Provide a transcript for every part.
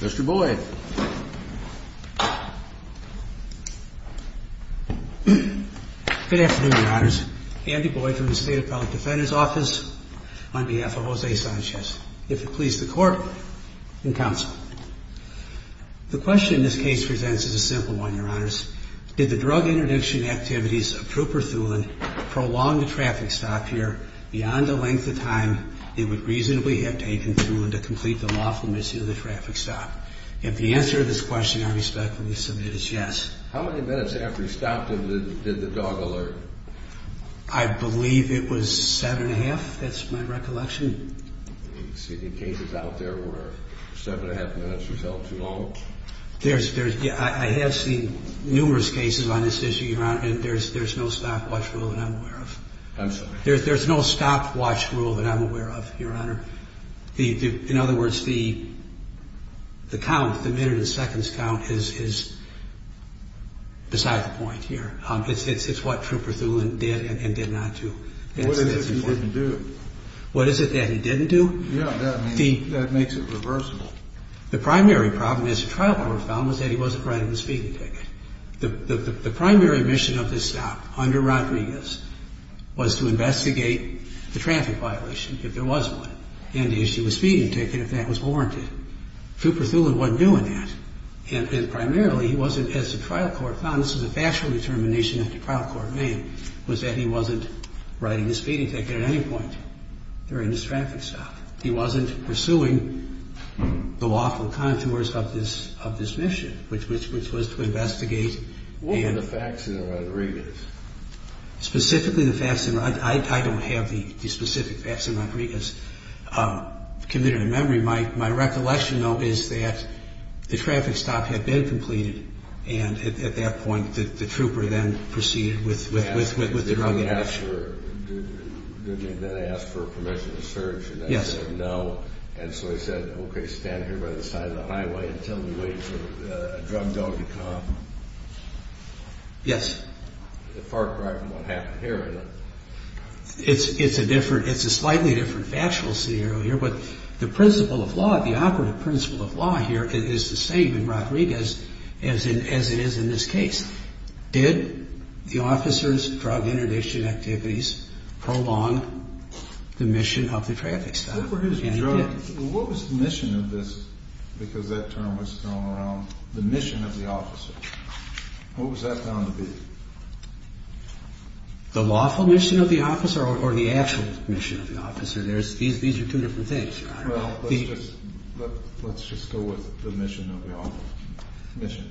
Mr. Boyd. Good afternoon, Your Honors. Andy Boyd from the State Appellate Defender's Office on behalf of Jose Sanchez. If it please the Court and Counsel. The question this case presents is a simple one, Your Honors. Did the drug interdiction activities of Trooper Thulin prolong the traffic stop here beyond the length of time it would reasonably have taken Thulin to complete the lawful mission of the traffic stop? If the answer to this question I respectfully submit is yes. How many minutes after he stopped him did the dog alert? I believe it was seven and a half, that's my recollection. You see the cases out there where seven and a half minutes was held too long? I have seen numerous cases on this issue, Your Honor, and there's no stopwatch rule that I'm aware of. I'm sorry. There's no stopwatch rule that I'm aware of, Your Honor. In other words, the count, the minute and seconds count is beside the point here. It's what Trooper Thulin did and did not do. What is it that he didn't do? Yeah, that makes it reversible. The primary problem, as the trial court found, was that he wasn't riding the speeding ticket. The primary mission of this stop under Rodriguez was to investigate the traffic violation, if there was one, and issue a speeding ticket if that was warranted. Trooper Thulin wasn't doing that. And primarily, he wasn't, as the trial court found, this was a factual determination that the trial court made, was that he wasn't riding the speeding ticket at any point during this traffic stop. He wasn't pursuing the lawful contours of this mission, which was to investigate and... I don't have the specific facts on Rodriguez committed in memory. My recollection, though, is that the traffic stop had been completed, and at that point, the trooper then proceeded with the drug investigation. Yes. It's a slightly different factual scenario here, but the principle of law, the operative principle of law here is the same in Rodriguez as it is in this case. Did the officer's drug interdiction activities prolong the mission of the traffic stop? And it did. What was the mission of this, because that term was thrown around, the mission of the officer? What was that found to be? The lawful mission of the officer or the actual mission of the officer? These are two different things, Your Honor. Well, let's just go with the mission of the officer.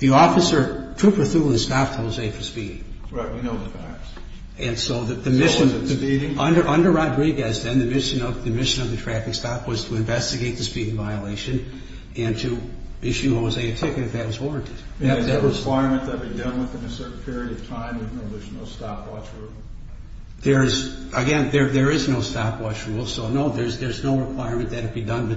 The officer, Trooper Thulin, stopped Jose for speeding. Right, we know the facts. And so the mission... So was it speeding? Under Rodriguez, then, the mission of the traffic stop was to investigate the speeding violation and to issue Jose a ticket if that was warranted. Is there a requirement that it be done within a certain period of time? There's no stopwatch rule? Again, there is no stopwatch rule, so no, there's no requirement that it be done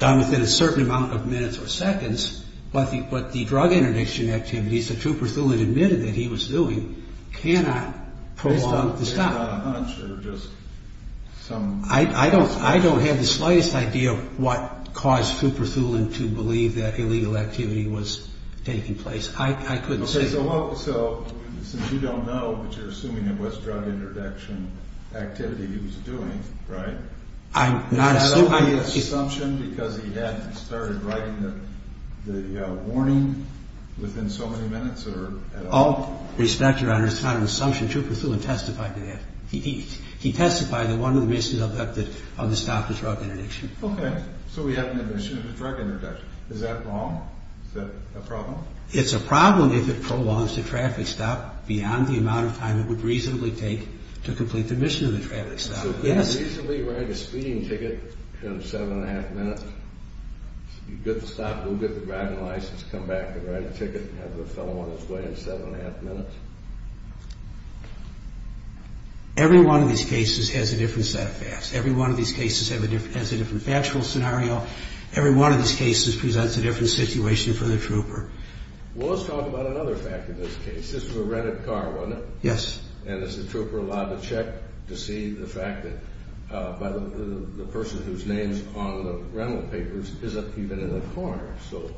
within a certain amount of minutes or seconds. But the drug interdiction activities that Trooper Thulin admitted that he was doing cannot prolong the stop. Based on a hunch or just some... I don't have the slightest idea what caused Trooper Thulin to believe that illegal activity was taking place. I couldn't say. Okay, so since you don't know, but you're assuming it was drug interdiction activity he was doing, right? I'm not assuming... Is that only an assumption because he hadn't started writing the warning within so many minutes or at all? All respect, Your Honor, it's not an assumption. Trooper Thulin testified to that. He testified that one of the reasons he stopped was drug interdiction. Okay, so we have an admission of drug interdiction. Is that wrong? Is that a problem? It's a problem if it prolongs the traffic stop beyond the amount of time it would reasonably take to complete the admission of the traffic stop. So could he reasonably write a speeding ticket in seven and a half minutes? He'd get the stop, he'd get the driving license, come back and write a ticket and have the fellow on his way in seven and a half minutes? Every one of these cases has a different set of facts. Every one of these cases has a different factual scenario. Every one of these cases presents a different situation for the trooper. Well, let's talk about another fact in this case. This was a rented car, wasn't it? Yes. And is the trooper allowed to check to see the fact that the person whose name is on the rental papers isn't even in the car? So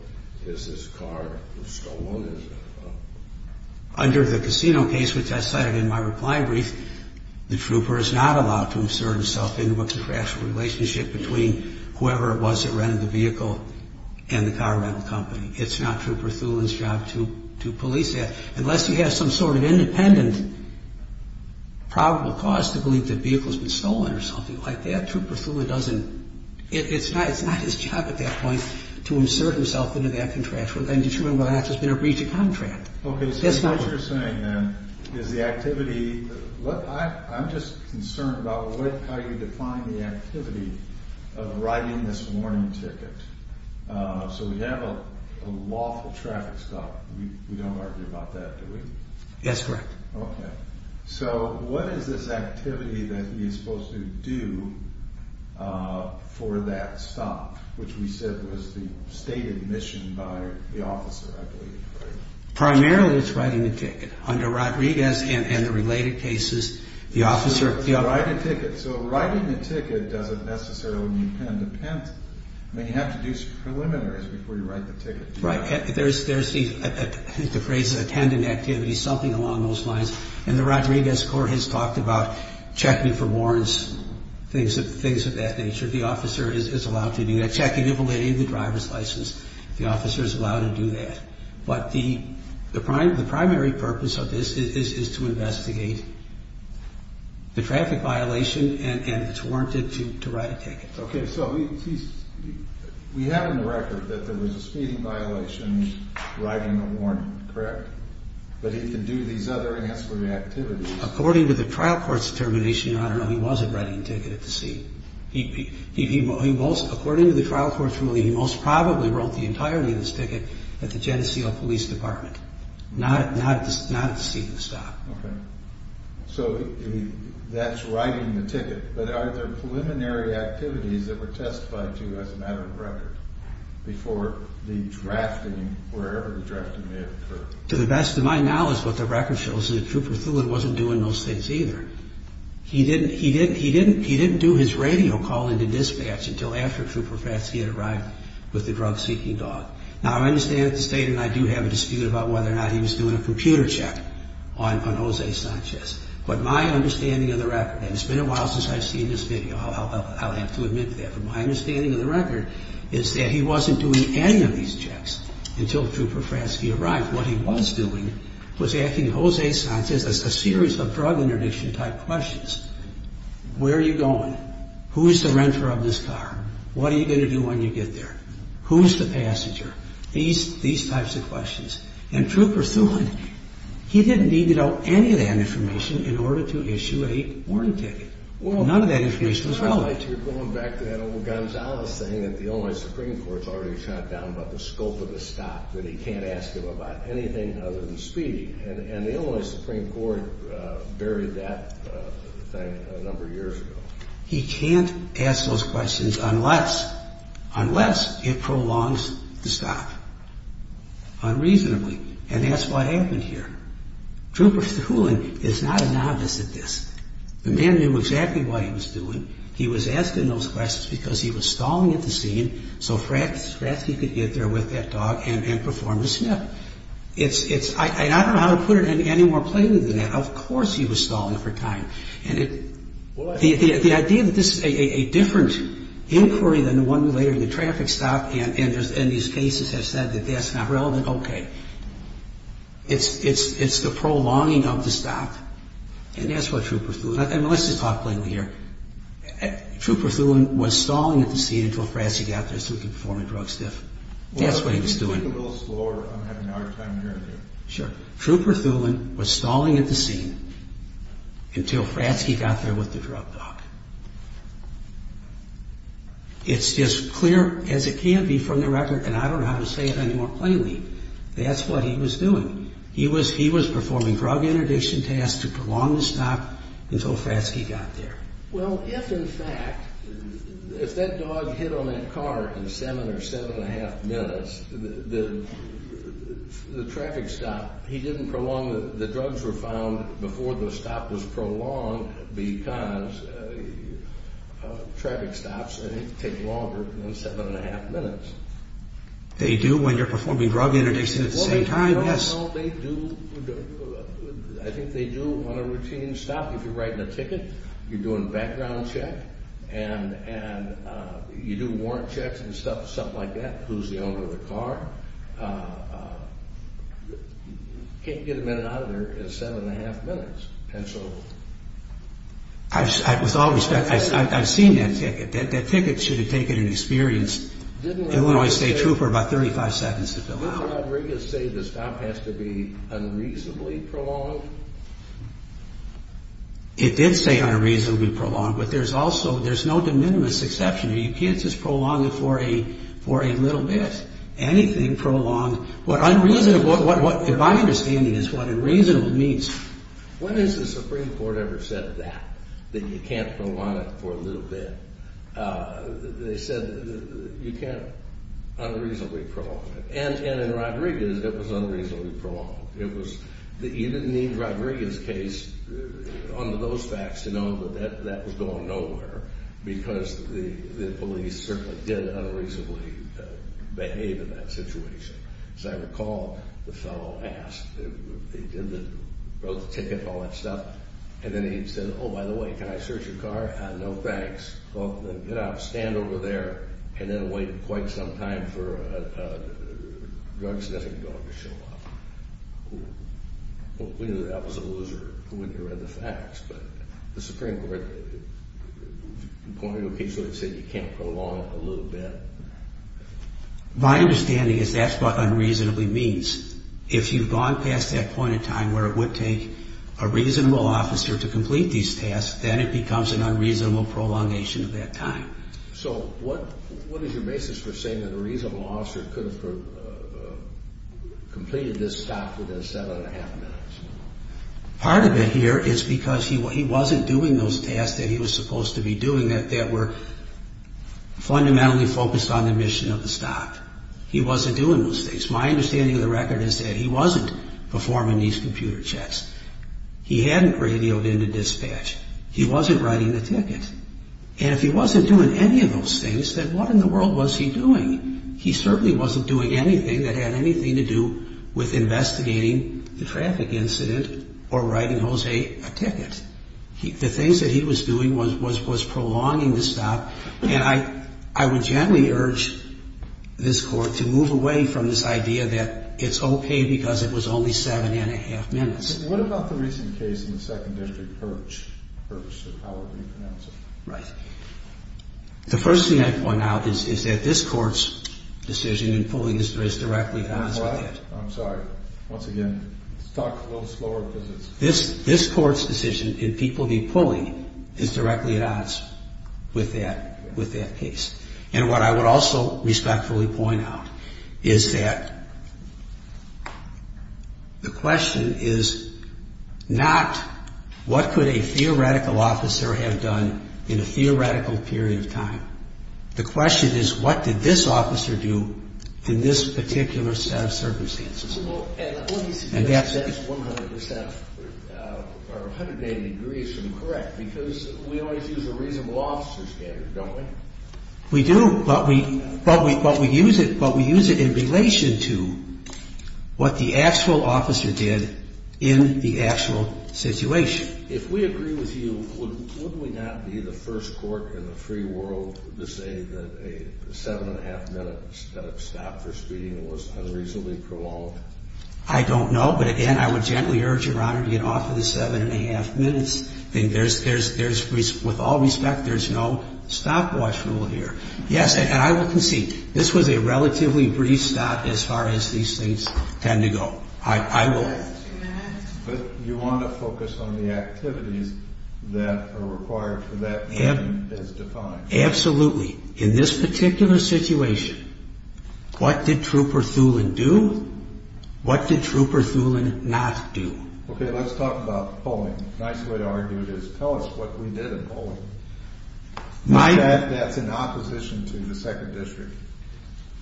is this car stolen? Under the casino case, which I cited in my reply brief, the trooper is not allowed to insert himself into a contractual relationship between whoever it was that rented the vehicle and the car rental company. It's not Trooper Thulin's job to police that. Unless he has some sort of independent probable cause to believe that the vehicle has been stolen or something like that, Trooper Thulin doesn't. It's not his job at that point to insert himself into that contractual relationship. Okay, so what you're saying then is the activity... I'm just concerned about how you define the activity of writing this warning ticket. So we have a lawful traffic stop. We don't argue about that, do we? Yes, correct. Okay, so what is this activity that he is supposed to do for that stop, which we said was the stated mission by the officer, I believe, right? Primarily it's writing the ticket. Under Rodriguez and the related cases, the officer... So writing the ticket doesn't necessarily mean pen to pen. You have to do some preliminaries before you write the ticket. Right. There's the phrase attending activities, something along those lines. And the Rodriguez court has talked about checking for warrants, things of that nature. The officer is allowed to do that. Check and give away the driver's license. The officer is allowed to do that. But the primary purpose of this is to investigate the traffic violation and it's warranted to write a ticket. Okay, so we have in the record that there was a speeding violation, writing a warrant, correct? But he can do these other ancillary activities. According to the trial court's determination, Your Honor, he wasn't writing the ticket at the scene. According to the trial court's ruling, he most probably wrote the entirety of this ticket at the Geneseo Police Department, not at the scene of the stop. Okay. So that's writing the ticket. But are there preliminary activities that were testified to as a matter of record before the drafting, wherever the drafting may have occurred? To the best of my knowledge, what the record shows is that Trooper Thulin wasn't doing those things either. He didn't do his radio call into dispatch until after Trooper Fatski had arrived with the drug-seeking dog. Now, I understand that the State and I do have a dispute about whether or not he was doing a computer check on Jose Sanchez. But my understanding of the record, and it's been a while since I've seen this video, I'll have to admit to that, but my understanding of the record is that he wasn't doing any of these checks until Trooper Fatski arrived. What he was doing was asking Jose Sanchez a series of drug interdiction-type questions. Where are you going? Who is the renter of this car? What are you going to do when you get there? Who's the passenger? These types of questions. And Trooper Thulin, he didn't need to know any of that information in order to issue a warning ticket. None of that information was relevant. You're going back to that old Gonzales thing that the Illinois Supreme Court's already shot down about the scope of the stop, that he can't ask him about anything other than speed. And the Illinois Supreme Court buried that thing a number of years ago. He can't ask those questions unless it prolongs the stop unreasonably. And that's what happened here. Trooper Thulin is not a novice at this. The man knew exactly what he was doing. He was asking those questions because he was stalling at the scene so Fatski could get there with that dog and perform the snip. I don't know how to put it any more plainly than that. Of course he was stalling for time. The idea that this is a different inquiry than the one related to the traffic stop and these cases have said that that's not relevant, okay. It's the prolonging of the stop. And that's what Trooper Thulin, let's just talk plainly here. Trooper Thulin was stalling at the scene until Fatski got there so he could perform a drug sniff. That's what he was doing. Take it a little slower. I'm having a hard time hearing you. Sure. Trooper Thulin was stalling at the scene until Fatski got there with the drug dog. It's as clear as it can be from the record, and I don't know how to say it any more plainly, that's what he was doing. He was performing drug interdiction tasks to prolong the stop until Fatski got there. Well, if in fact, if that dog hit on that car in seven or seven and a half minutes, the traffic stop, he didn't prolong, the drugs were found before the stop was prolonged because traffic stops take longer than seven and a half minutes. They do when you're performing drug interdiction at the same time, yes. Well, they do, I think they do on a routine stop. If you're writing a ticket, you're doing a background check, and you do warrant checks and stuff, something like that, who's the owner of the car, you can't get a minute out of there in seven and a half minutes. And so, with all respect, I've seen that ticket. That ticket should have taken an experienced Illinois State Trooper about 35 seconds to fill out. Did Mr. Rodriguez say the stop has to be unreasonably prolonged? It did say unreasonably prolonged, but there's also, there's no de minimis exception. You can't just prolong it for a little bit. Anything prolonged, what unreasonable, if I understand it, is what unreasonable means. When has the Supreme Court ever said that, that you can't prolong it for a little bit? They said you can't unreasonably prolong it. And in Rodriguez, it was unreasonably prolonged. It was, you didn't need Rodriguez's case under those facts to know that that was going nowhere, because the police certainly did unreasonably behave in that situation. As I recall, the fellow asked, he did the, wrote the ticket and all that stuff, and then he said, oh, by the way, can I search your car? No, thanks. Well, then get up, stand over there, and then wait quite some time for a drug sniffing dog to show up. Well, if we knew that was a loser, who would have read the facts? But the Supreme Court pointed to a case where it said you can't prolong it for a little bit. My understanding is that's what unreasonably means. If you've gone past that point in time where it would take a reasonable officer to complete these tasks, then it becomes an unreasonable prolongation of that time. So what is your basis for saying that a reasonable officer could have completed this stop within seven and a half minutes? Part of it here is because he wasn't doing those tasks that he was supposed to be doing, that were fundamentally focused on the mission of the stop. He wasn't doing those things. My understanding of the record is that he wasn't performing these computer checks. He hadn't radioed in to dispatch. He wasn't writing the ticket. And if he wasn't doing any of those things, then what in the world was he doing? He certainly wasn't doing anything that had anything to do with investigating the traffic incident or writing Jose a ticket. The things that he was doing was prolonging the stop, And I would gently urge this Court to move away from this idea that it's okay because it was only seven and a half minutes. But what about the recent case in the Second District, Hurch? Hurch is how we pronounce it. Right. The first thing I point out is that this Court's decision in pulling this is directly at odds with that. I'm sorry. Once again, let's talk a little slower because it's... This Court's decision in people being pulled is directly at odds with that case. And what I would also respectfully point out is that the question is not what could a theoretical officer have done in a theoretical period of time. The question is what did this officer do in this particular set of circumstances. And that's 100 percent or 180 degrees from correct because we always use a reasonable officer standard, don't we? We do, but we use it in relation to what the actual officer did in the actual situation. If we agree with you, would we not be the first Court in the free world to say that a seven and a half minute stop for speeding was unreasonably prolonged? I don't know, but again, I would gently urge Your Honor to get off of the seven and a half minutes. With all respect, there's no stopwatch rule here. Yes, and I will concede. This was a relatively brief stop as far as these things tend to go. I will... But you want to focus on the activities that are required for that to be as defined. Absolutely. In this particular situation, what did Trooper Thulin do? What did Trooper Thulin not do? Okay, let's talk about polling. A nice way to argue it is tell us what we did in polling. That's in opposition to the Second District.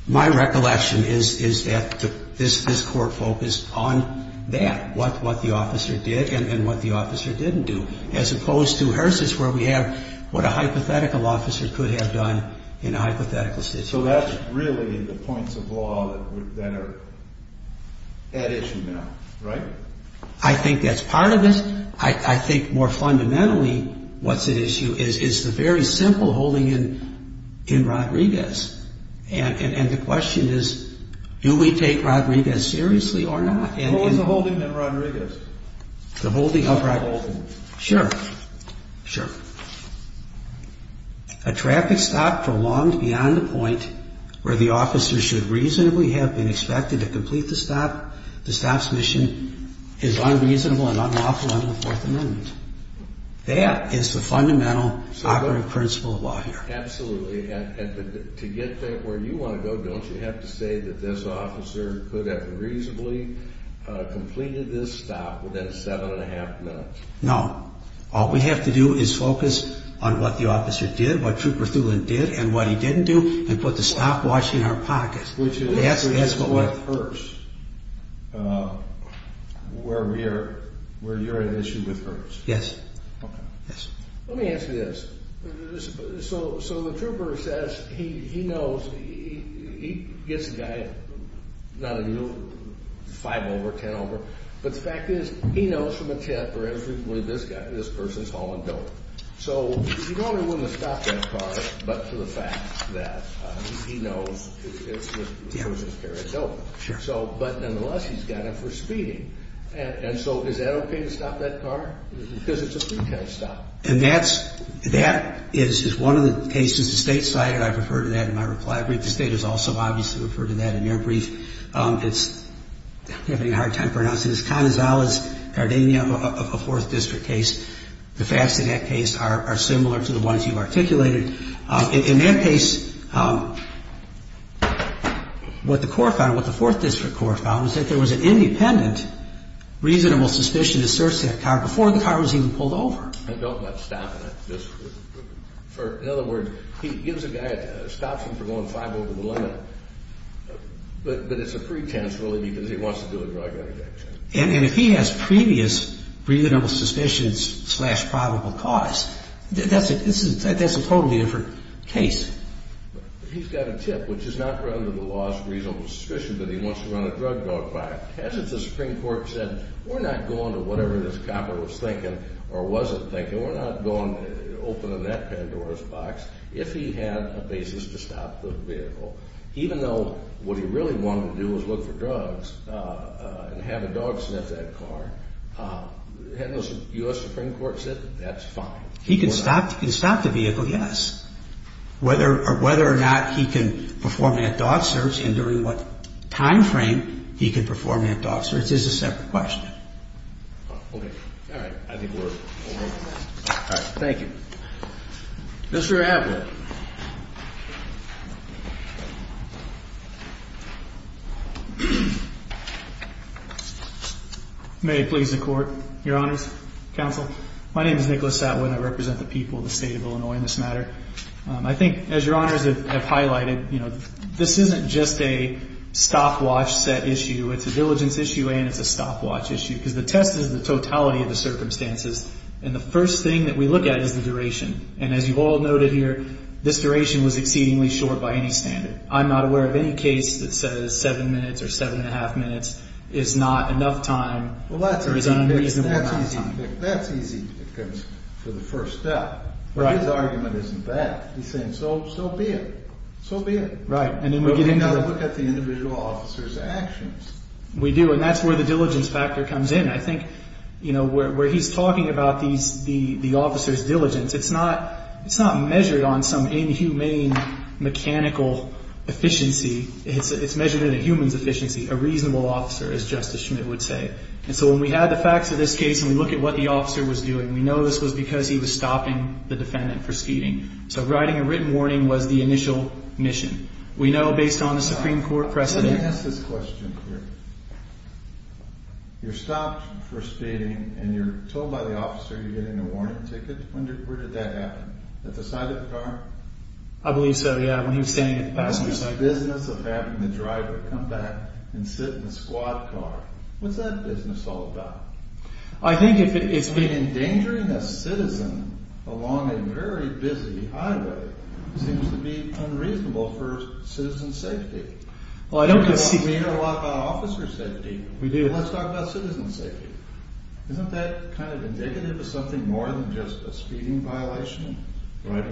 My recollection is that this Court focused on that, what the officer did and what the officer didn't do, as opposed to HRSA's where we have what a hypothetical officer could have done in a hypothetical situation. So that's really the points of law that are at issue now, right? I think that's part of it. I think more fundamentally what's at issue is the very simple holding in Rodriguez. And the question is, do we take Rodriguez seriously or not? What was the holding in Rodriguez? The holding of Rodriguez. Sure, sure. A traffic stop prolonged beyond the point where the officer should reasonably have been expected to complete the stop. The stop's mission is unreasonable and unlawful under the Fourth Amendment. That is the fundamental operative principle of law here. Absolutely. And to get to where you want to go, don't you have to say that this officer could have reasonably completed this stop within seven and a half minutes? No. All we have to do is focus on what the officer did, what Trooper Thulin did and what he didn't do, and put the stopwatch in our pocket. Which is what hurts, where you're at issue with hurts. Yes. Okay. Let me answer this. So the Trooper says he knows, he gets a guy, not a new, five over, ten over, but the fact is he knows from a tip or infrequently this guy, this person's hauling dope. So he not only wouldn't have stopped that car, but for the fact that he knows it's a person carrying dope. Sure. But nonetheless, he's got it for speeding. And so is that okay to stop that car? Because it's a three-time stop. And that is one of the cases the State cited. I refer to that in my reply brief. The State has also obviously referred to that in their brief. It's having a hard time pronouncing this. The Fascinac case is a four-district case. The Fascinac case are similar to the ones you articulated. In that case, what the court found, what the fourth district court found, was that there was an independent, reasonable suspicion to search that car before the car was even pulled over. And don't let stopping it. In other words, he gives a guy a stop for going five over the limit. But it's a pretense, really, because he wants to do a drug interjection. And if he has previous reasonable suspicions slash probable cause, that's a totally different case. He's got a tip, which is not run under the laws of reasonable suspicion, but he wants to run a drug dog fight. Hasn't the Supreme Court said, we're not going to whatever this copper was thinking or wasn't thinking, we're not going to open that Pandora's box if he had a basis to stop the vehicle. Even though what he really wanted to do was look for drugs and have a dog sniff that car, hasn't the U.S. Supreme Court said that that's fine? He can stop the vehicle, yes. Whether or not he can perform that dog search and during what time frame he can perform that dog search is a separate question. All right. I think we're all right. Thank you. Mr. Adler. May it please the Court, Your Honors, Counsel. My name is Nicholas Adler and I represent the people of the state of Illinois in this matter. I think, as Your Honors have highlighted, this isn't just a stopwatch set issue. It's a diligence issue and it's a stopwatch issue because the test is the totality of the circumstances and the first thing that we look at is the duration. And as you've all noted here, this duration was exceedingly short by any standard. I'm not aware of any case that says seven minutes or seven and a half minutes is not enough time or is unreasonable enough time. That's easy for the first step. Right. But his argument isn't that. He's saying so be it. So be it. Right. But we've got to look at the individual officer's actions. We do, and that's where the diligence factor comes in. I think, you know, where he's talking about the officer's diligence, it's not measured on some inhumane mechanical efficiency. It's measured in a human's efficiency, a reasonable officer, as Justice Schmidt would say. And so when we have the facts of this case and we look at what the officer was doing, we know this was because he was stopping the defendant from speeding. So writing a written warning was the initial mission. We know based on the Supreme Court precedent. Let me ask this question here. You're stopped for speeding and you're told by the officer you're getting a warning ticket. Where did that happen? At the side of the car? I believe so, yeah. When he was standing at the passenger side. What's the business of having the driver come back and sit in a squad car? What's that business all about? I mean, endangering a citizen along a very busy highway seems to be unreasonable for citizen safety. We hear a lot about officer safety. Let's talk about citizen safety. Isn't that kind of indicative of something more than just a speeding violation? Well,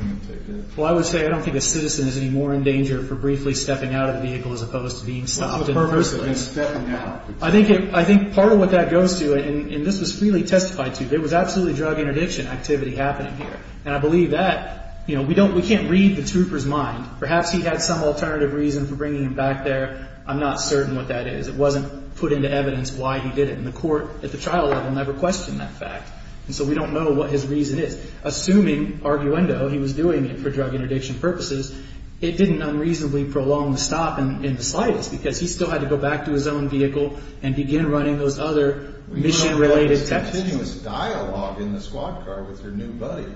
I would say I don't think a citizen is any more in danger for briefly stepping out of the vehicle as opposed to being stopped. I think part of what that goes to, and this was freely testified to, there was absolutely drug interdiction activity happening here. And I believe that. We can't read the trooper's mind. Perhaps he had some alternative reason for bringing him back there. I'm not certain what that is. It wasn't put into evidence why he did it. And the court at the trial level never questioned that fact. And so we don't know what his reason is. Assuming, arguendo, he was doing it for drug interdiction purposes, it didn't unreasonably prolong the stop in the slightest because he still had to go back to his own vehicle and begin running those other mission-related tests. What was continuous dialogue in the squad car with your new buddy?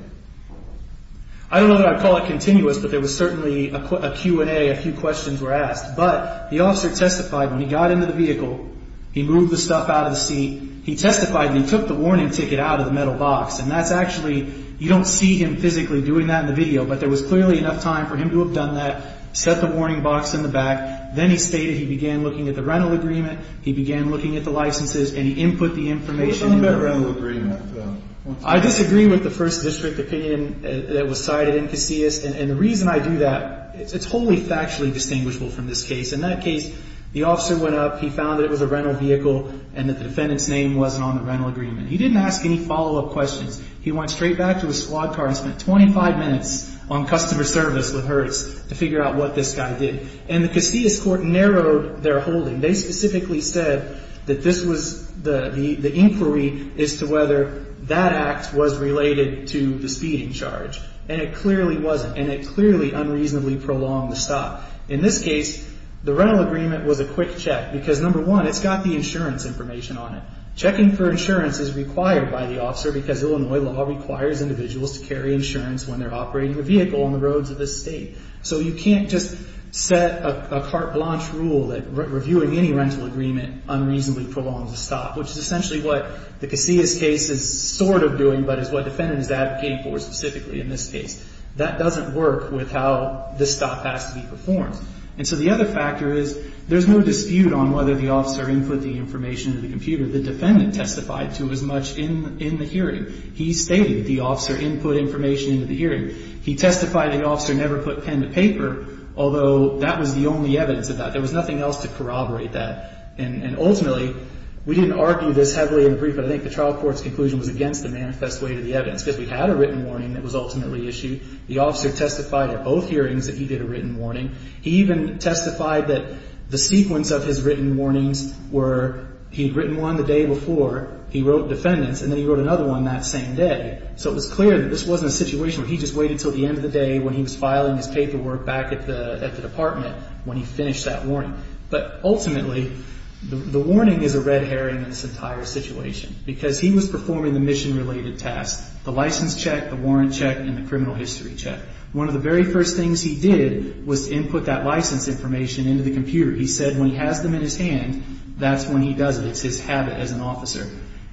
I don't know that I'd call it continuous, but there was certainly a Q&A, a few questions were asked. But the officer testified when he got into the vehicle, he moved the stuff out of the seat. He testified and he took the warning ticket out of the metal box. And that's actually, you don't see him physically doing that in the video, but there was clearly enough time for him to have done that, set the warning box in the back. Then he stated he began looking at the rental agreement, he began looking at the licenses, and he input the information. What about rental agreement? I disagree with the first district opinion that was cited in Casillas. And the reason I do that, it's wholly factually distinguishable from this case. In that case, the officer went up, he found that it was a rental vehicle, and that the defendant's name wasn't on the rental agreement. He didn't ask any follow-up questions. He went straight back to his squad car and spent 25 minutes on customer service with her to figure out what this guy did. And the Casillas court narrowed their holding. They specifically said that this was the inquiry as to whether that act was related to the speeding charge. And it clearly wasn't, and it clearly unreasonably prolonged the stop. In this case, the rental agreement was a quick check because, number one, it's got the insurance information on it. Checking for insurance is required by the officer because Illinois law requires individuals to carry insurance when they're operating a vehicle on the roads of the State. So you can't just set a carte blanche rule that reviewing any rental agreement unreasonably prolongs a stop, which is essentially what the Casillas case is sort of doing, but is what the defendant is advocating for specifically in this case. That doesn't work with how the stop has to be performed. And so the other factor is there's no dispute on whether the officer input the information into the computer the defendant testified to as much in the hearing. He stated that the officer input information into the hearing. He testified the officer never put pen to paper, although that was the only evidence of that. There was nothing else to corroborate that. And ultimately, we didn't argue this heavily in the brief, but I think the trial court's conclusion was against the manifest way to the evidence because we had a written warning that was ultimately issued. The officer testified at both hearings that he did a written warning. He even testified that the sequence of his written warnings were he had written one the day before, he wrote defendants, and then he wrote another one that same day. So it was clear that this wasn't a situation where he just waited until the end of the day when he was filing his paperwork back at the department when he finished that warning. But ultimately, the warning is a red herring in this entire situation because he was performing the mission-related tasks, the license check, the warrant check, and the criminal history check. One of the very first things he did was input that license information into the computer. He said when he has them in his hand, that's when he does it. It's his habit as an officer.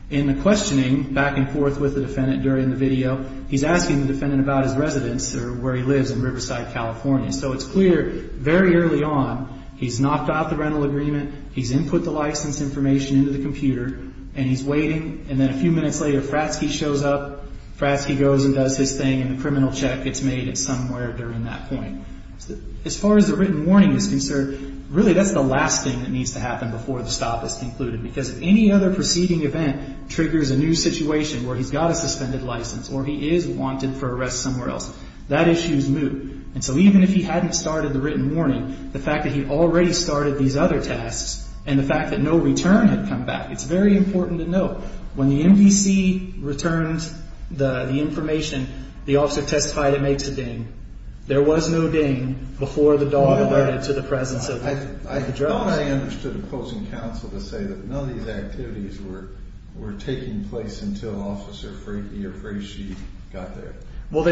In the questioning back and forth with the defendant during the video, he's asking the defendant about his residence or where he lives in Riverside, California. So it's clear very early on he's knocked out the rental agreement, he's input the license information into the computer, and he's waiting. And then a few minutes later, Fratzke shows up. Fratzke goes and does his thing, and the criminal check gets made at somewhere during that point. As far as the written warning is concerned, really that's the last thing that needs to happen before the stop is concluded because if any other preceding event triggers a new situation where he's got a suspended license or he is wanted for arrest somewhere else, that issue is moot. And so even if he hadn't started the written warning, the fact that he already started these other tasks and the fact that no return had come back, it's very important to note when the MVC returned the information, the officer testified it made to Ding. There was no Ding before the dog alerted to the presence of the drugs. I thought I understood opposing counsel to say that none of these activities were taking place until Officer Freaky or Freaky got there. Well,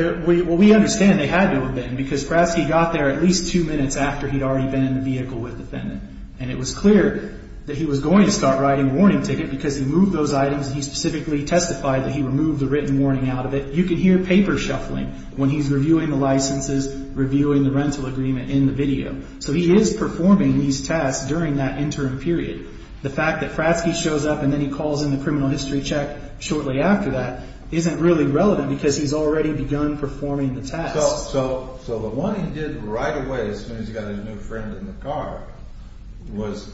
we understand they had to have been because Fratzke got there at least two minutes after he'd already been in the vehicle with the defendant. And it was clear that he was going to start writing a warning ticket because he moved those items and he specifically testified that he removed the written warning out of it. You can hear paper shuffling when he's reviewing the licenses, reviewing the rental agreement in the video. So he is performing these tasks during that interim period. The fact that Fratzke shows up and then he calls in the criminal history check shortly after that isn't really relevant because he's already begun performing the tasks. So the one he did right away as soon as he got his new friend in the car was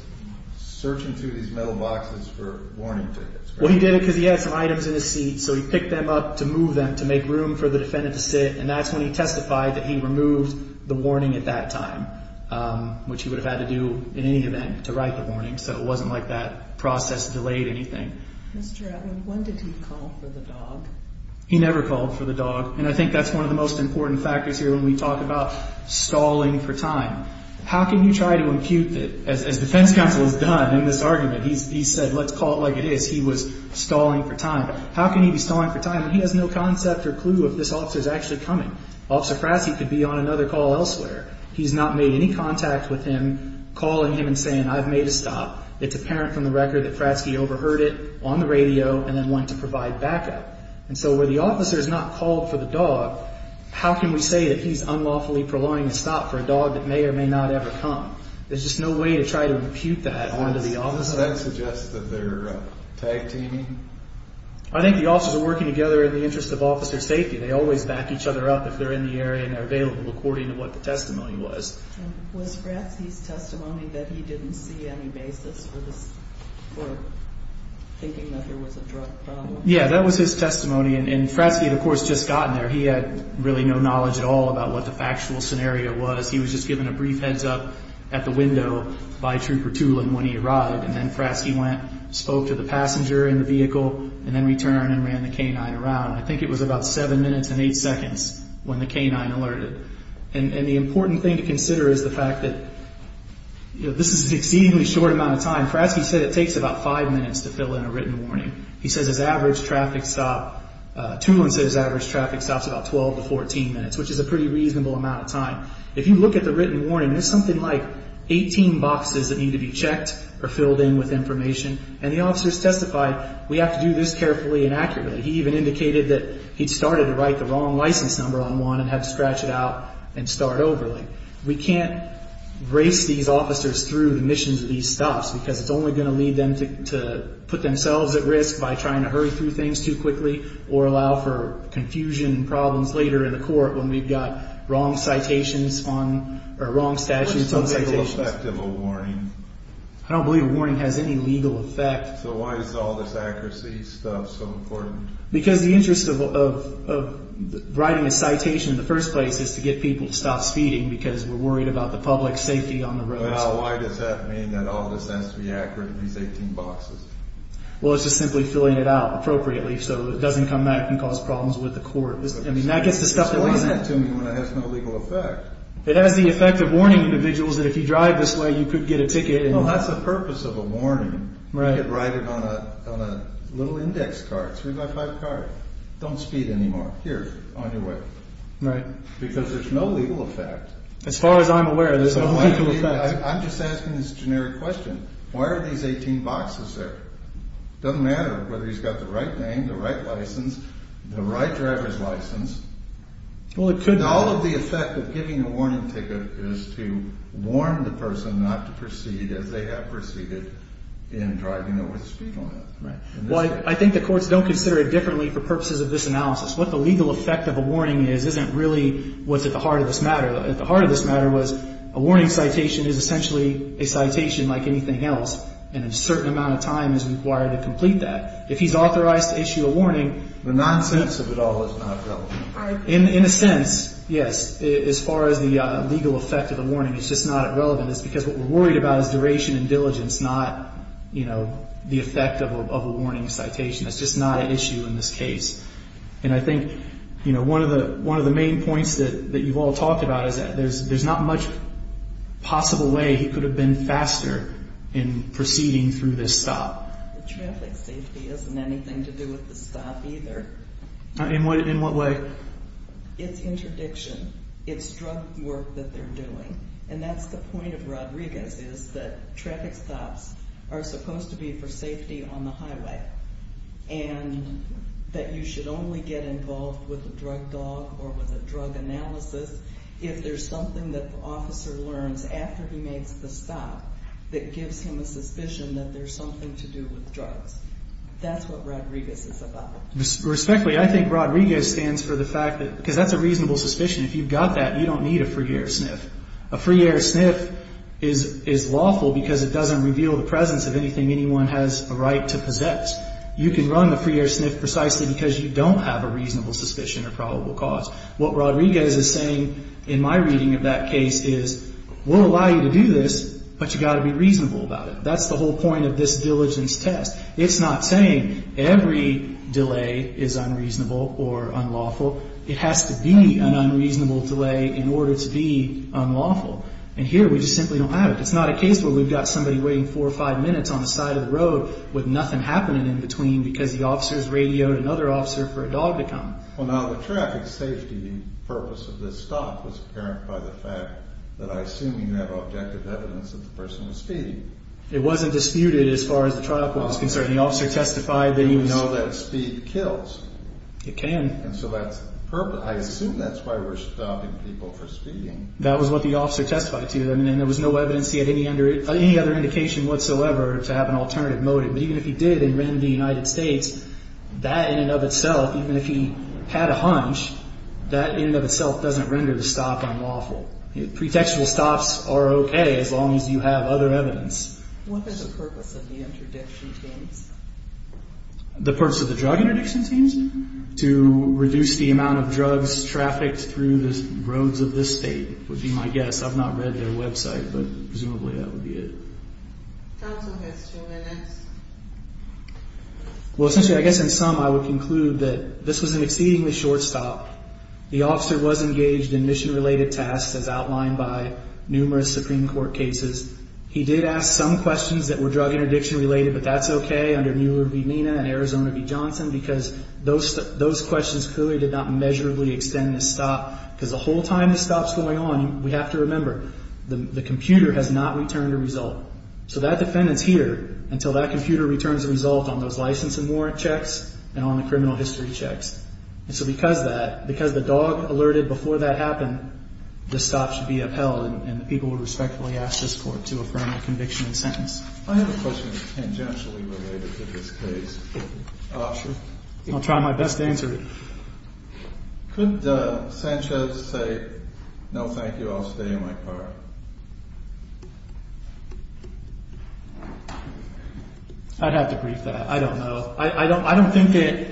searching through these metal boxes for warning tickets. Well, he did it because he had some items in his seat, so he picked them up to move them to make room for the defendant to sit, and that's when he testified that he removed the warning at that time, which he would have had to do in any event to write the warning, so it wasn't like that process delayed anything. Mr. Atwood, when did he call for the dog? He never called for the dog, and I think that's one of the most important factors here when we talk about stalling for time. How can you try to impute that? As defense counsel has done in this argument, he said, let's call it like it is. He was stalling for time. How can he be stalling for time when he has no concept or clue if this officer is actually coming? Officer Fratzke could be on another call elsewhere. He's not made any contact with him calling him and saying, I've made a stop. It's apparent from the record that Fratzke overheard it on the radio and then went to provide backup. And so where the officer has not called for the dog, how can we say that he's unlawfully prolonging a stop for a dog that may or may not ever come? There's just no way to try to impute that onto the officer. Does that suggest that they're tag-teaming? I think the officers are working together in the interest of officer safety. They always back each other up if they're in the area and they're available, according to what the testimony was. Was Fratzke's testimony that he didn't see any basis for thinking that there was a drug problem? Yeah, that was his testimony. And Fratzke had, of course, just gotten there. He had really no knowledge at all about what the factual scenario was. He was just given a brief heads-up at the window by Trooper Tulin when he arrived. And then Fratzke went, spoke to the passenger in the vehicle, and then returned and ran the canine around. I think it was about seven minutes and eight seconds when the canine alerted. And the important thing to consider is the fact that this is an exceedingly short amount of time. Fratzke said it takes about five minutes to fill in a written warning. He says his average traffic stop, Tulin says his average traffic stop is about 12 to 14 minutes, which is a pretty reasonable amount of time. If you look at the written warning, there's something like 18 boxes that need to be checked or filled in with information, and the officers testified, we have to do this carefully and accurately. He even indicated that he'd started to write the wrong license number on one and had to scratch it out and start over. We can't race these officers through the missions of these stops because it's only going to lead them to put themselves at risk by trying to hurry through things too quickly or allow for confusion and problems later in the court when we've got wrong citations on or wrong statutes on citations. What is the legal effect of a warning? I don't believe a warning has any legal effect. So why is all this accuracy stuff so important? Because the interest of writing a citation in the first place is to get people to stop speeding because we're worried about the public safety on the roads. Why does that mean that all this has to be accurate in these 18 boxes? Well, it's just simply filling it out appropriately so it doesn't come back and cause problems with the court. I mean, that gets discussed. Explain that to me when it has no legal effect. It has the effect of warning individuals that if you drive this way, you could get a ticket. Well, that's the purpose of a warning. You could write it on a little index card, a three-by-five card. Don't speed anymore. Here, on your way. Right. Because there's no legal effect. As far as I'm aware, there's no legal effect. I'm just asking this generic question. Why are these 18 boxes there? It doesn't matter whether he's got the right name, the right license, the right driver's license. Well, it could be. All of the effect of giving a warning ticket is to warn the person not to proceed as they have proceeded in driving over the speed limit. Well, I think the courts don't consider it differently for purposes of this analysis. What the legal effect of a warning is isn't really what's at the heart of this matter. At the heart of this matter was a warning citation is essentially a citation like anything else, and a certain amount of time is required to complete that. If he's authorized to issue a warning, the nonsense of it all is not relevant. In a sense, yes. As far as the legal effect of a warning, it's just not relevant. It's because what we're worried about is duration and diligence, not the effect of a warning citation. It's just not an issue in this case. And I think one of the main points that you've all talked about is that there's not much possible way he could have been faster in proceeding through this stop. Traffic safety isn't anything to do with the stop either. In what way? It's interdiction. It's drug work that they're doing. And that's the point of Rodriguez is that traffic stops are supposed to be for safety on the highway and that you should only get involved with a drug dog or with a drug analysis if there's something that the officer learns after he makes the stop that gives him a suspicion that there's something to do with drugs. That's what Rodriguez is about. Respectfully, I think Rodriguez stands for the fact that, because that's a reasonable suspicion. If you've got that, you don't need a free air sniff. A free air sniff is lawful because it doesn't reveal the presence of anything anyone has a right to possess. You can run a free air sniff precisely because you don't have a reasonable suspicion or probable cause. What Rodriguez is saying in my reading of that case is, we'll allow you to do this, but you've got to be reasonable about it. That's the whole point of this diligence test. It's not saying every delay is unreasonable or unlawful. It has to be an unreasonable delay in order to be unlawful. And here, we just simply don't have it. It's not a case where we've got somebody waiting four or five minutes on the side of the road with nothing happening in between because the officers radioed another officer for a dog to come. Well, now, the traffic safety purpose of this stop was apparent by the fact that I assume you have objective evidence that the person was speeding. It wasn't disputed as far as the trial court was concerned. The officer testified that he was— You know that speed kills. It can. And so that's—I assume that's why we're stopping people for speeding. That was what the officer testified to, and there was no evidence he had any other indication whatsoever to have an alternative motive. But even if he did and ran the United States, that in and of itself, even if he had a hunch, that in and of itself doesn't render the stop unlawful. Pretextual stops are okay as long as you have other evidence. What is the purpose of the interdiction teams? The purpose of the drug interdiction teams? To reduce the amount of drugs trafficked through the roads of this state would be my guess. I've not read their website, but presumably that would be it. That's okay. It's two minutes. Well, essentially, I guess in sum, I would conclude that this was an exceedingly short stop. The officer was engaged in mission-related tasks as outlined by numerous Supreme Court cases. He did ask some questions that were drug interdiction-related, but that's okay under Mueller v. Mina and Arizona v. Johnson because those questions clearly did not measurably extend the stop. Because the whole time the stop's going on, we have to remember, the computer has not returned a result. So that defendant's here until that computer returns a result on those license and warrant checks and on the criminal history checks. And so because that, because the dog alerted before that happened, the stop should be upheld and the people would respectfully ask this court to affirm the conviction and sentence. I have a question tangentially related to this case. Sure. I'll try my best to answer it. Could Sanchez say, no, thank you, I'll stay in my car? I'd have to brief that. I don't know. I don't think that,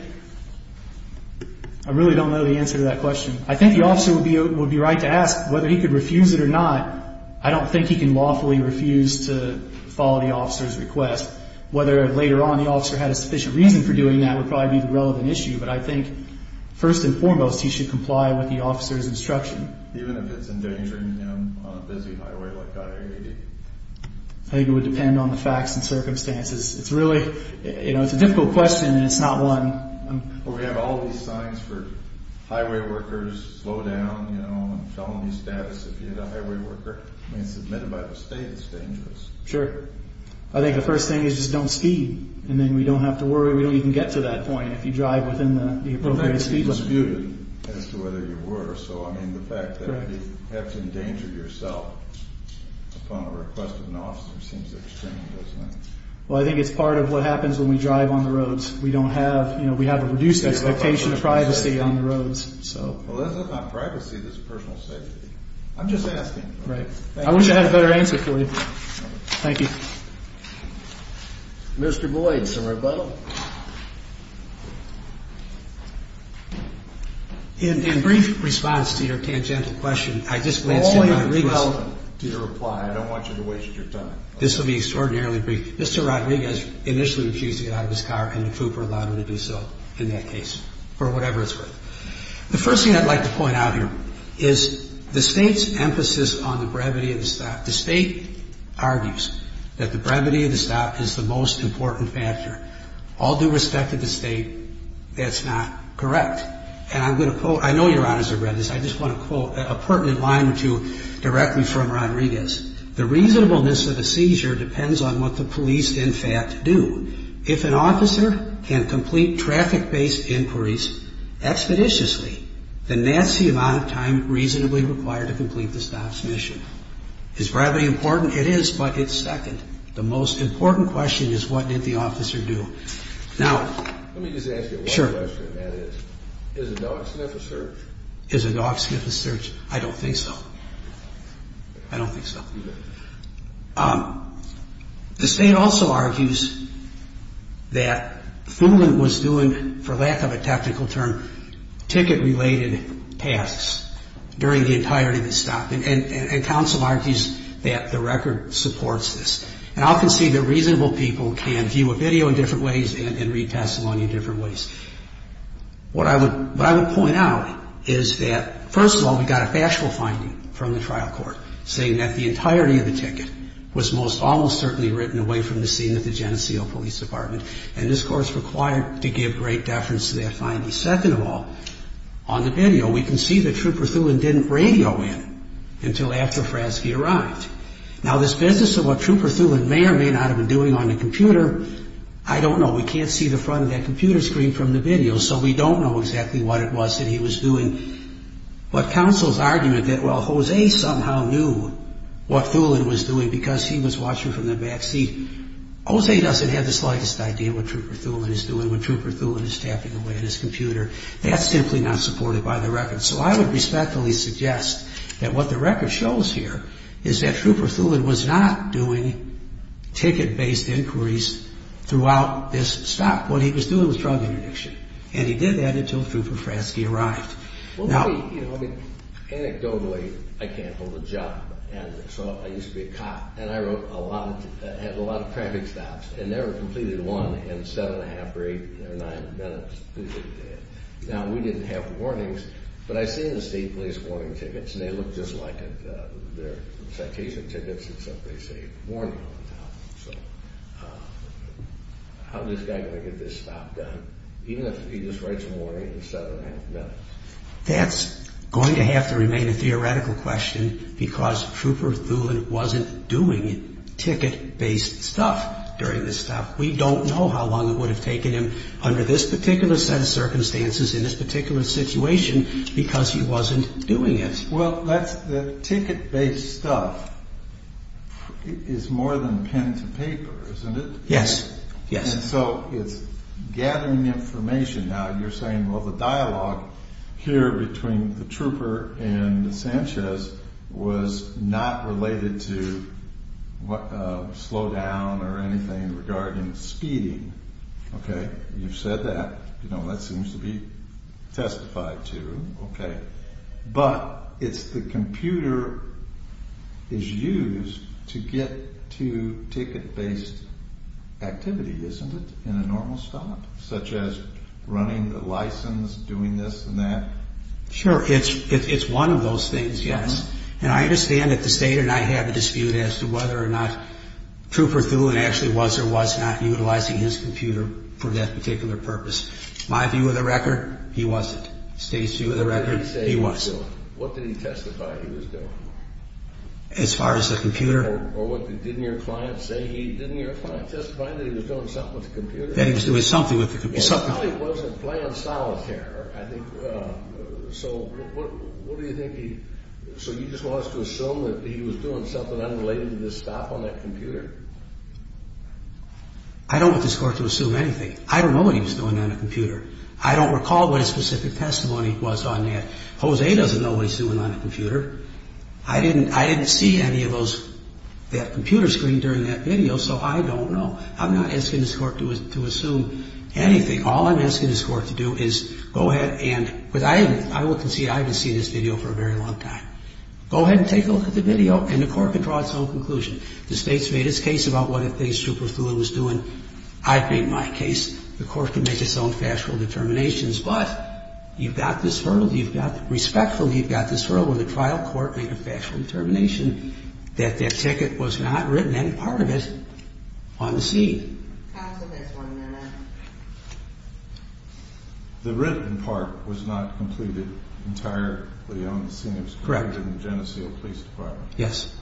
I really don't know the answer to that question. I think the officer would be right to ask whether he could refuse it or not. I don't think he can lawfully refuse to follow the officer's request. Whether later on the officer had a sufficient reason for doing that would probably be the relevant issue. But I think, first and foremost, he should comply with the officer's instruction. Even if it's endangering him on a busy highway like Goddard AD? I think it would depend on the facts and circumstances. It's a difficult question and it's not one. We have all these signs for highway workers, slow down, felony status if you're a highway worker. It's admitted by the state, it's dangerous. Sure. I think the first thing is just don't speed. And then we don't have to worry, we don't even get to that point if you drive within the appropriate speed limit. But that could be disputed as to whether you were. So the fact that you have to endanger yourself upon the request of an officer seems extreme, doesn't it? Well, I think it's part of what happens when we drive on the roads. We don't have, you know, we have a reduced expectation of privacy on the roads. Well, this is not privacy, this is personal safety. I'm just asking. Right. I wish I had a better answer for you. Thank you. Mr. Boyd, is there a rebuttal? In brief response to your tangential question, I just want to say that I agree with you. Well, to your reply, I don't want you to waste your time. This will be extraordinarily brief. Mr. Rodriguez initially refused to get out of his car and the COOPER allowed him to do so in that case. For whatever it's worth. The first thing I'd like to point out here is the state's emphasis on the brevity of the stop. The state argues that the brevity of the stop is the most important factor. All due respect to the state, that's not correct. And I'm going to quote. I know Your Honors have read this. I just want to quote a pertinent line or two directly from Rodriguez. The reasonableness of a seizure depends on what the police, in fact, do. If an officer can complete traffic-based inquiries expeditiously, then that's the amount of time reasonably required to complete the stop's mission. Is brevity important? It is, but it's second. The most important question is what did the officer do? Now, let me just ask you one question. That is, is a dog sniff a search? Is a dog sniff a search? I don't think so. I don't think so. The state also argues that Fulen was doing, for lack of a technical term, ticket-related tasks during the entirety of the stop. And counsel argues that the record supports this. And I can see that reasonable people can view a video in different ways and read testimony in different ways. What I would point out is that, first of all, we got a factual finding from the trial court saying that the entirety of the ticket was most almost certainly written away from the scene at the Geneseo Police Department. And this court is required to give great deference to that finding. Second of all, on the video, we can see that Trooper Thulen didn't radio in until after Fraske arrived. Now, this business of what Trooper Thulen may or may not have been doing on the computer, I don't know. We can't see the front of that computer screen from the video, so we don't know exactly what it was that he was doing. But counsel's argument that, well, Jose somehow knew what Thulen was doing because he was watching from the back seat. Jose doesn't have the slightest idea what Trooper Thulen is doing when Trooper Thulen is tapping away at his computer. That's simply not supported by the record. So I would respectfully suggest that what the record shows here is that Trooper Thulen was not doing ticket-based inquiries throughout this stop. What he was doing was drug interdiction, and he did that until Trooper Fraske arrived. Well, you know, I mean, anecdotally, I can't hold a job, and so I used to be a cop, and I wrote a lot of traffic stops and never completed one in 7 1⁄2 or 8 or 9 minutes. Now, we didn't have warnings, but I've seen the state police warning tickets, and they look just like their citation tickets, except they say warning on them. So how is this guy going to get this stop done, even if he just writes a warning in 7 1⁄2 minutes? That's going to have to remain a theoretical question because Trooper Thulen wasn't doing ticket-based stuff during this stop. We don't know how long it would have taken him under this particular set of circumstances in this particular situation because he wasn't doing it. Well, the ticket-based stuff is more than pen to paper, isn't it? Yes, yes. And so it's gathering information. Now, you're saying, well, the dialogue here between the trooper and Sanchez was not related to slowdown or anything regarding speeding. Okay, you've said that. You know, that seems to be testified to. Okay, but it's the computer is used to get to ticket-based activity, isn't it, in a normal stop, such as running the license, doing this and that? Sure, it's one of those things, yes. And I understand that the state and I have a dispute as to whether or not Trooper Thulen actually was or was not utilizing his computer for that particular purpose. My view of the record, he wasn't. State's view of the record, he was. What did he say he was doing? What did he testify he was doing? As far as the computer? Or didn't your client testify that he was doing something with the computer? That he was doing something with the computer. And how he wasn't playing solitaire, I think. So what do you think he – So you just want us to assume that he was doing something unrelated to this stop on that computer? I don't want this Court to assume anything. I don't know what he was doing on a computer. I don't recall what his specific testimony was on that. Jose doesn't know what he's doing on a computer. I didn't see any of those – that computer screen during that video, so I don't know. I'm not asking this Court to assume anything. All I'm asking this Court to do is go ahead and – Because I haven't – I will concede I haven't seen this video for a very long time. Go ahead and take a look at the video, and the Court can draw its own conclusion. The State's made its case about what it thinks Schubert was doing. I've made my case. The Court can make its own factual determinations. But you've got this hurdle. You've got – respectfully, you've got this hurdle when the trial court made a factual determination that that ticket was not written, any part of it, on the scene. Counsel, there's one minute. The written part was not completed entirely on the scene. It was collected in the Geneseo Police Department. Yes.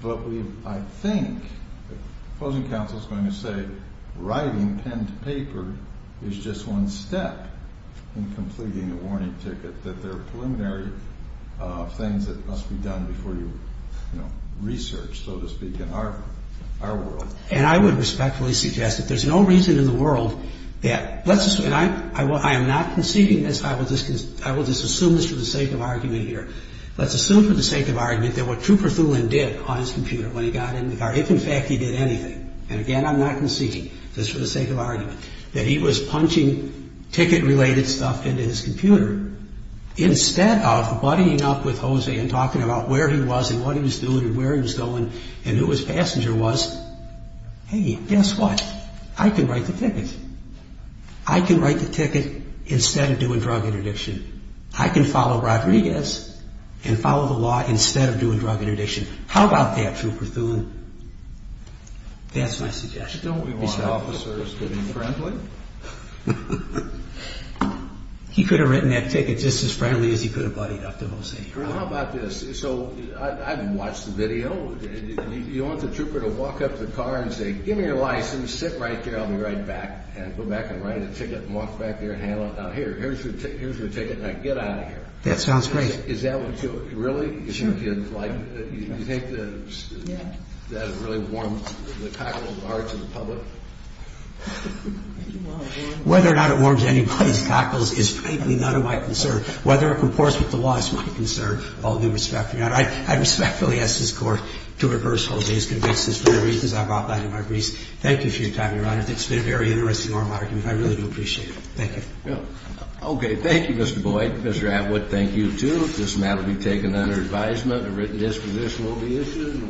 But we've – I think the opposing counsel is going to say writing pen to paper is just one step in completing a warning ticket, that there are preliminary things that must be done before you, you know, research, so to speak, in our world. And I would respectfully suggest that there's no reason in the world that – let's assume – and I am not conceding this. I will just assume this for the sake of argument here. Let's assume for the sake of argument that what Trooper Thulin did on his computer when he got in the car, if in fact he did anything – and again, I'm not conceding this for the sake of argument – that he was punching ticket-related stuff into his computer instead of buddying up with Jose and talking about where he was and what he was doing and where he was going and who his passenger was, hey, guess what? I can write the ticket. I can write the ticket instead of doing drug interdiction. I can follow Rodriguez and follow the law instead of doing drug interdiction. How about that, Trooper Thulin? That's my suggestion. Don't we want officers to be friendly? He could have written that ticket just as friendly as he could have buddied up to Jose. How about this? So I've watched the video. You want the trooper to walk up to the car and say, give me your license, sit right there, I'll be right back, and go back and write a ticket and walk back there and handle it. Now here, here's your ticket, now get out of here. That sounds great. Is that what you really think you'd like? You think that would really warm the cockles of the hearts of the public? Whether or not it warms anybody's cockles is frankly none of my concern. Whether or not it comports with the laws is my concern. All due respect, Your Honor, I respectfully ask this Court to reverse Jose's convictions for the reasons I brought back in my briefs. Thank you for your time, Your Honor. It's been a very interesting oral argument. I really do appreciate it. Thank you. Okay. Thank you, Mr. Boyd. Mr. Atwood, thank you, too. This matter will be taken under advisement. A written disposition will be issued.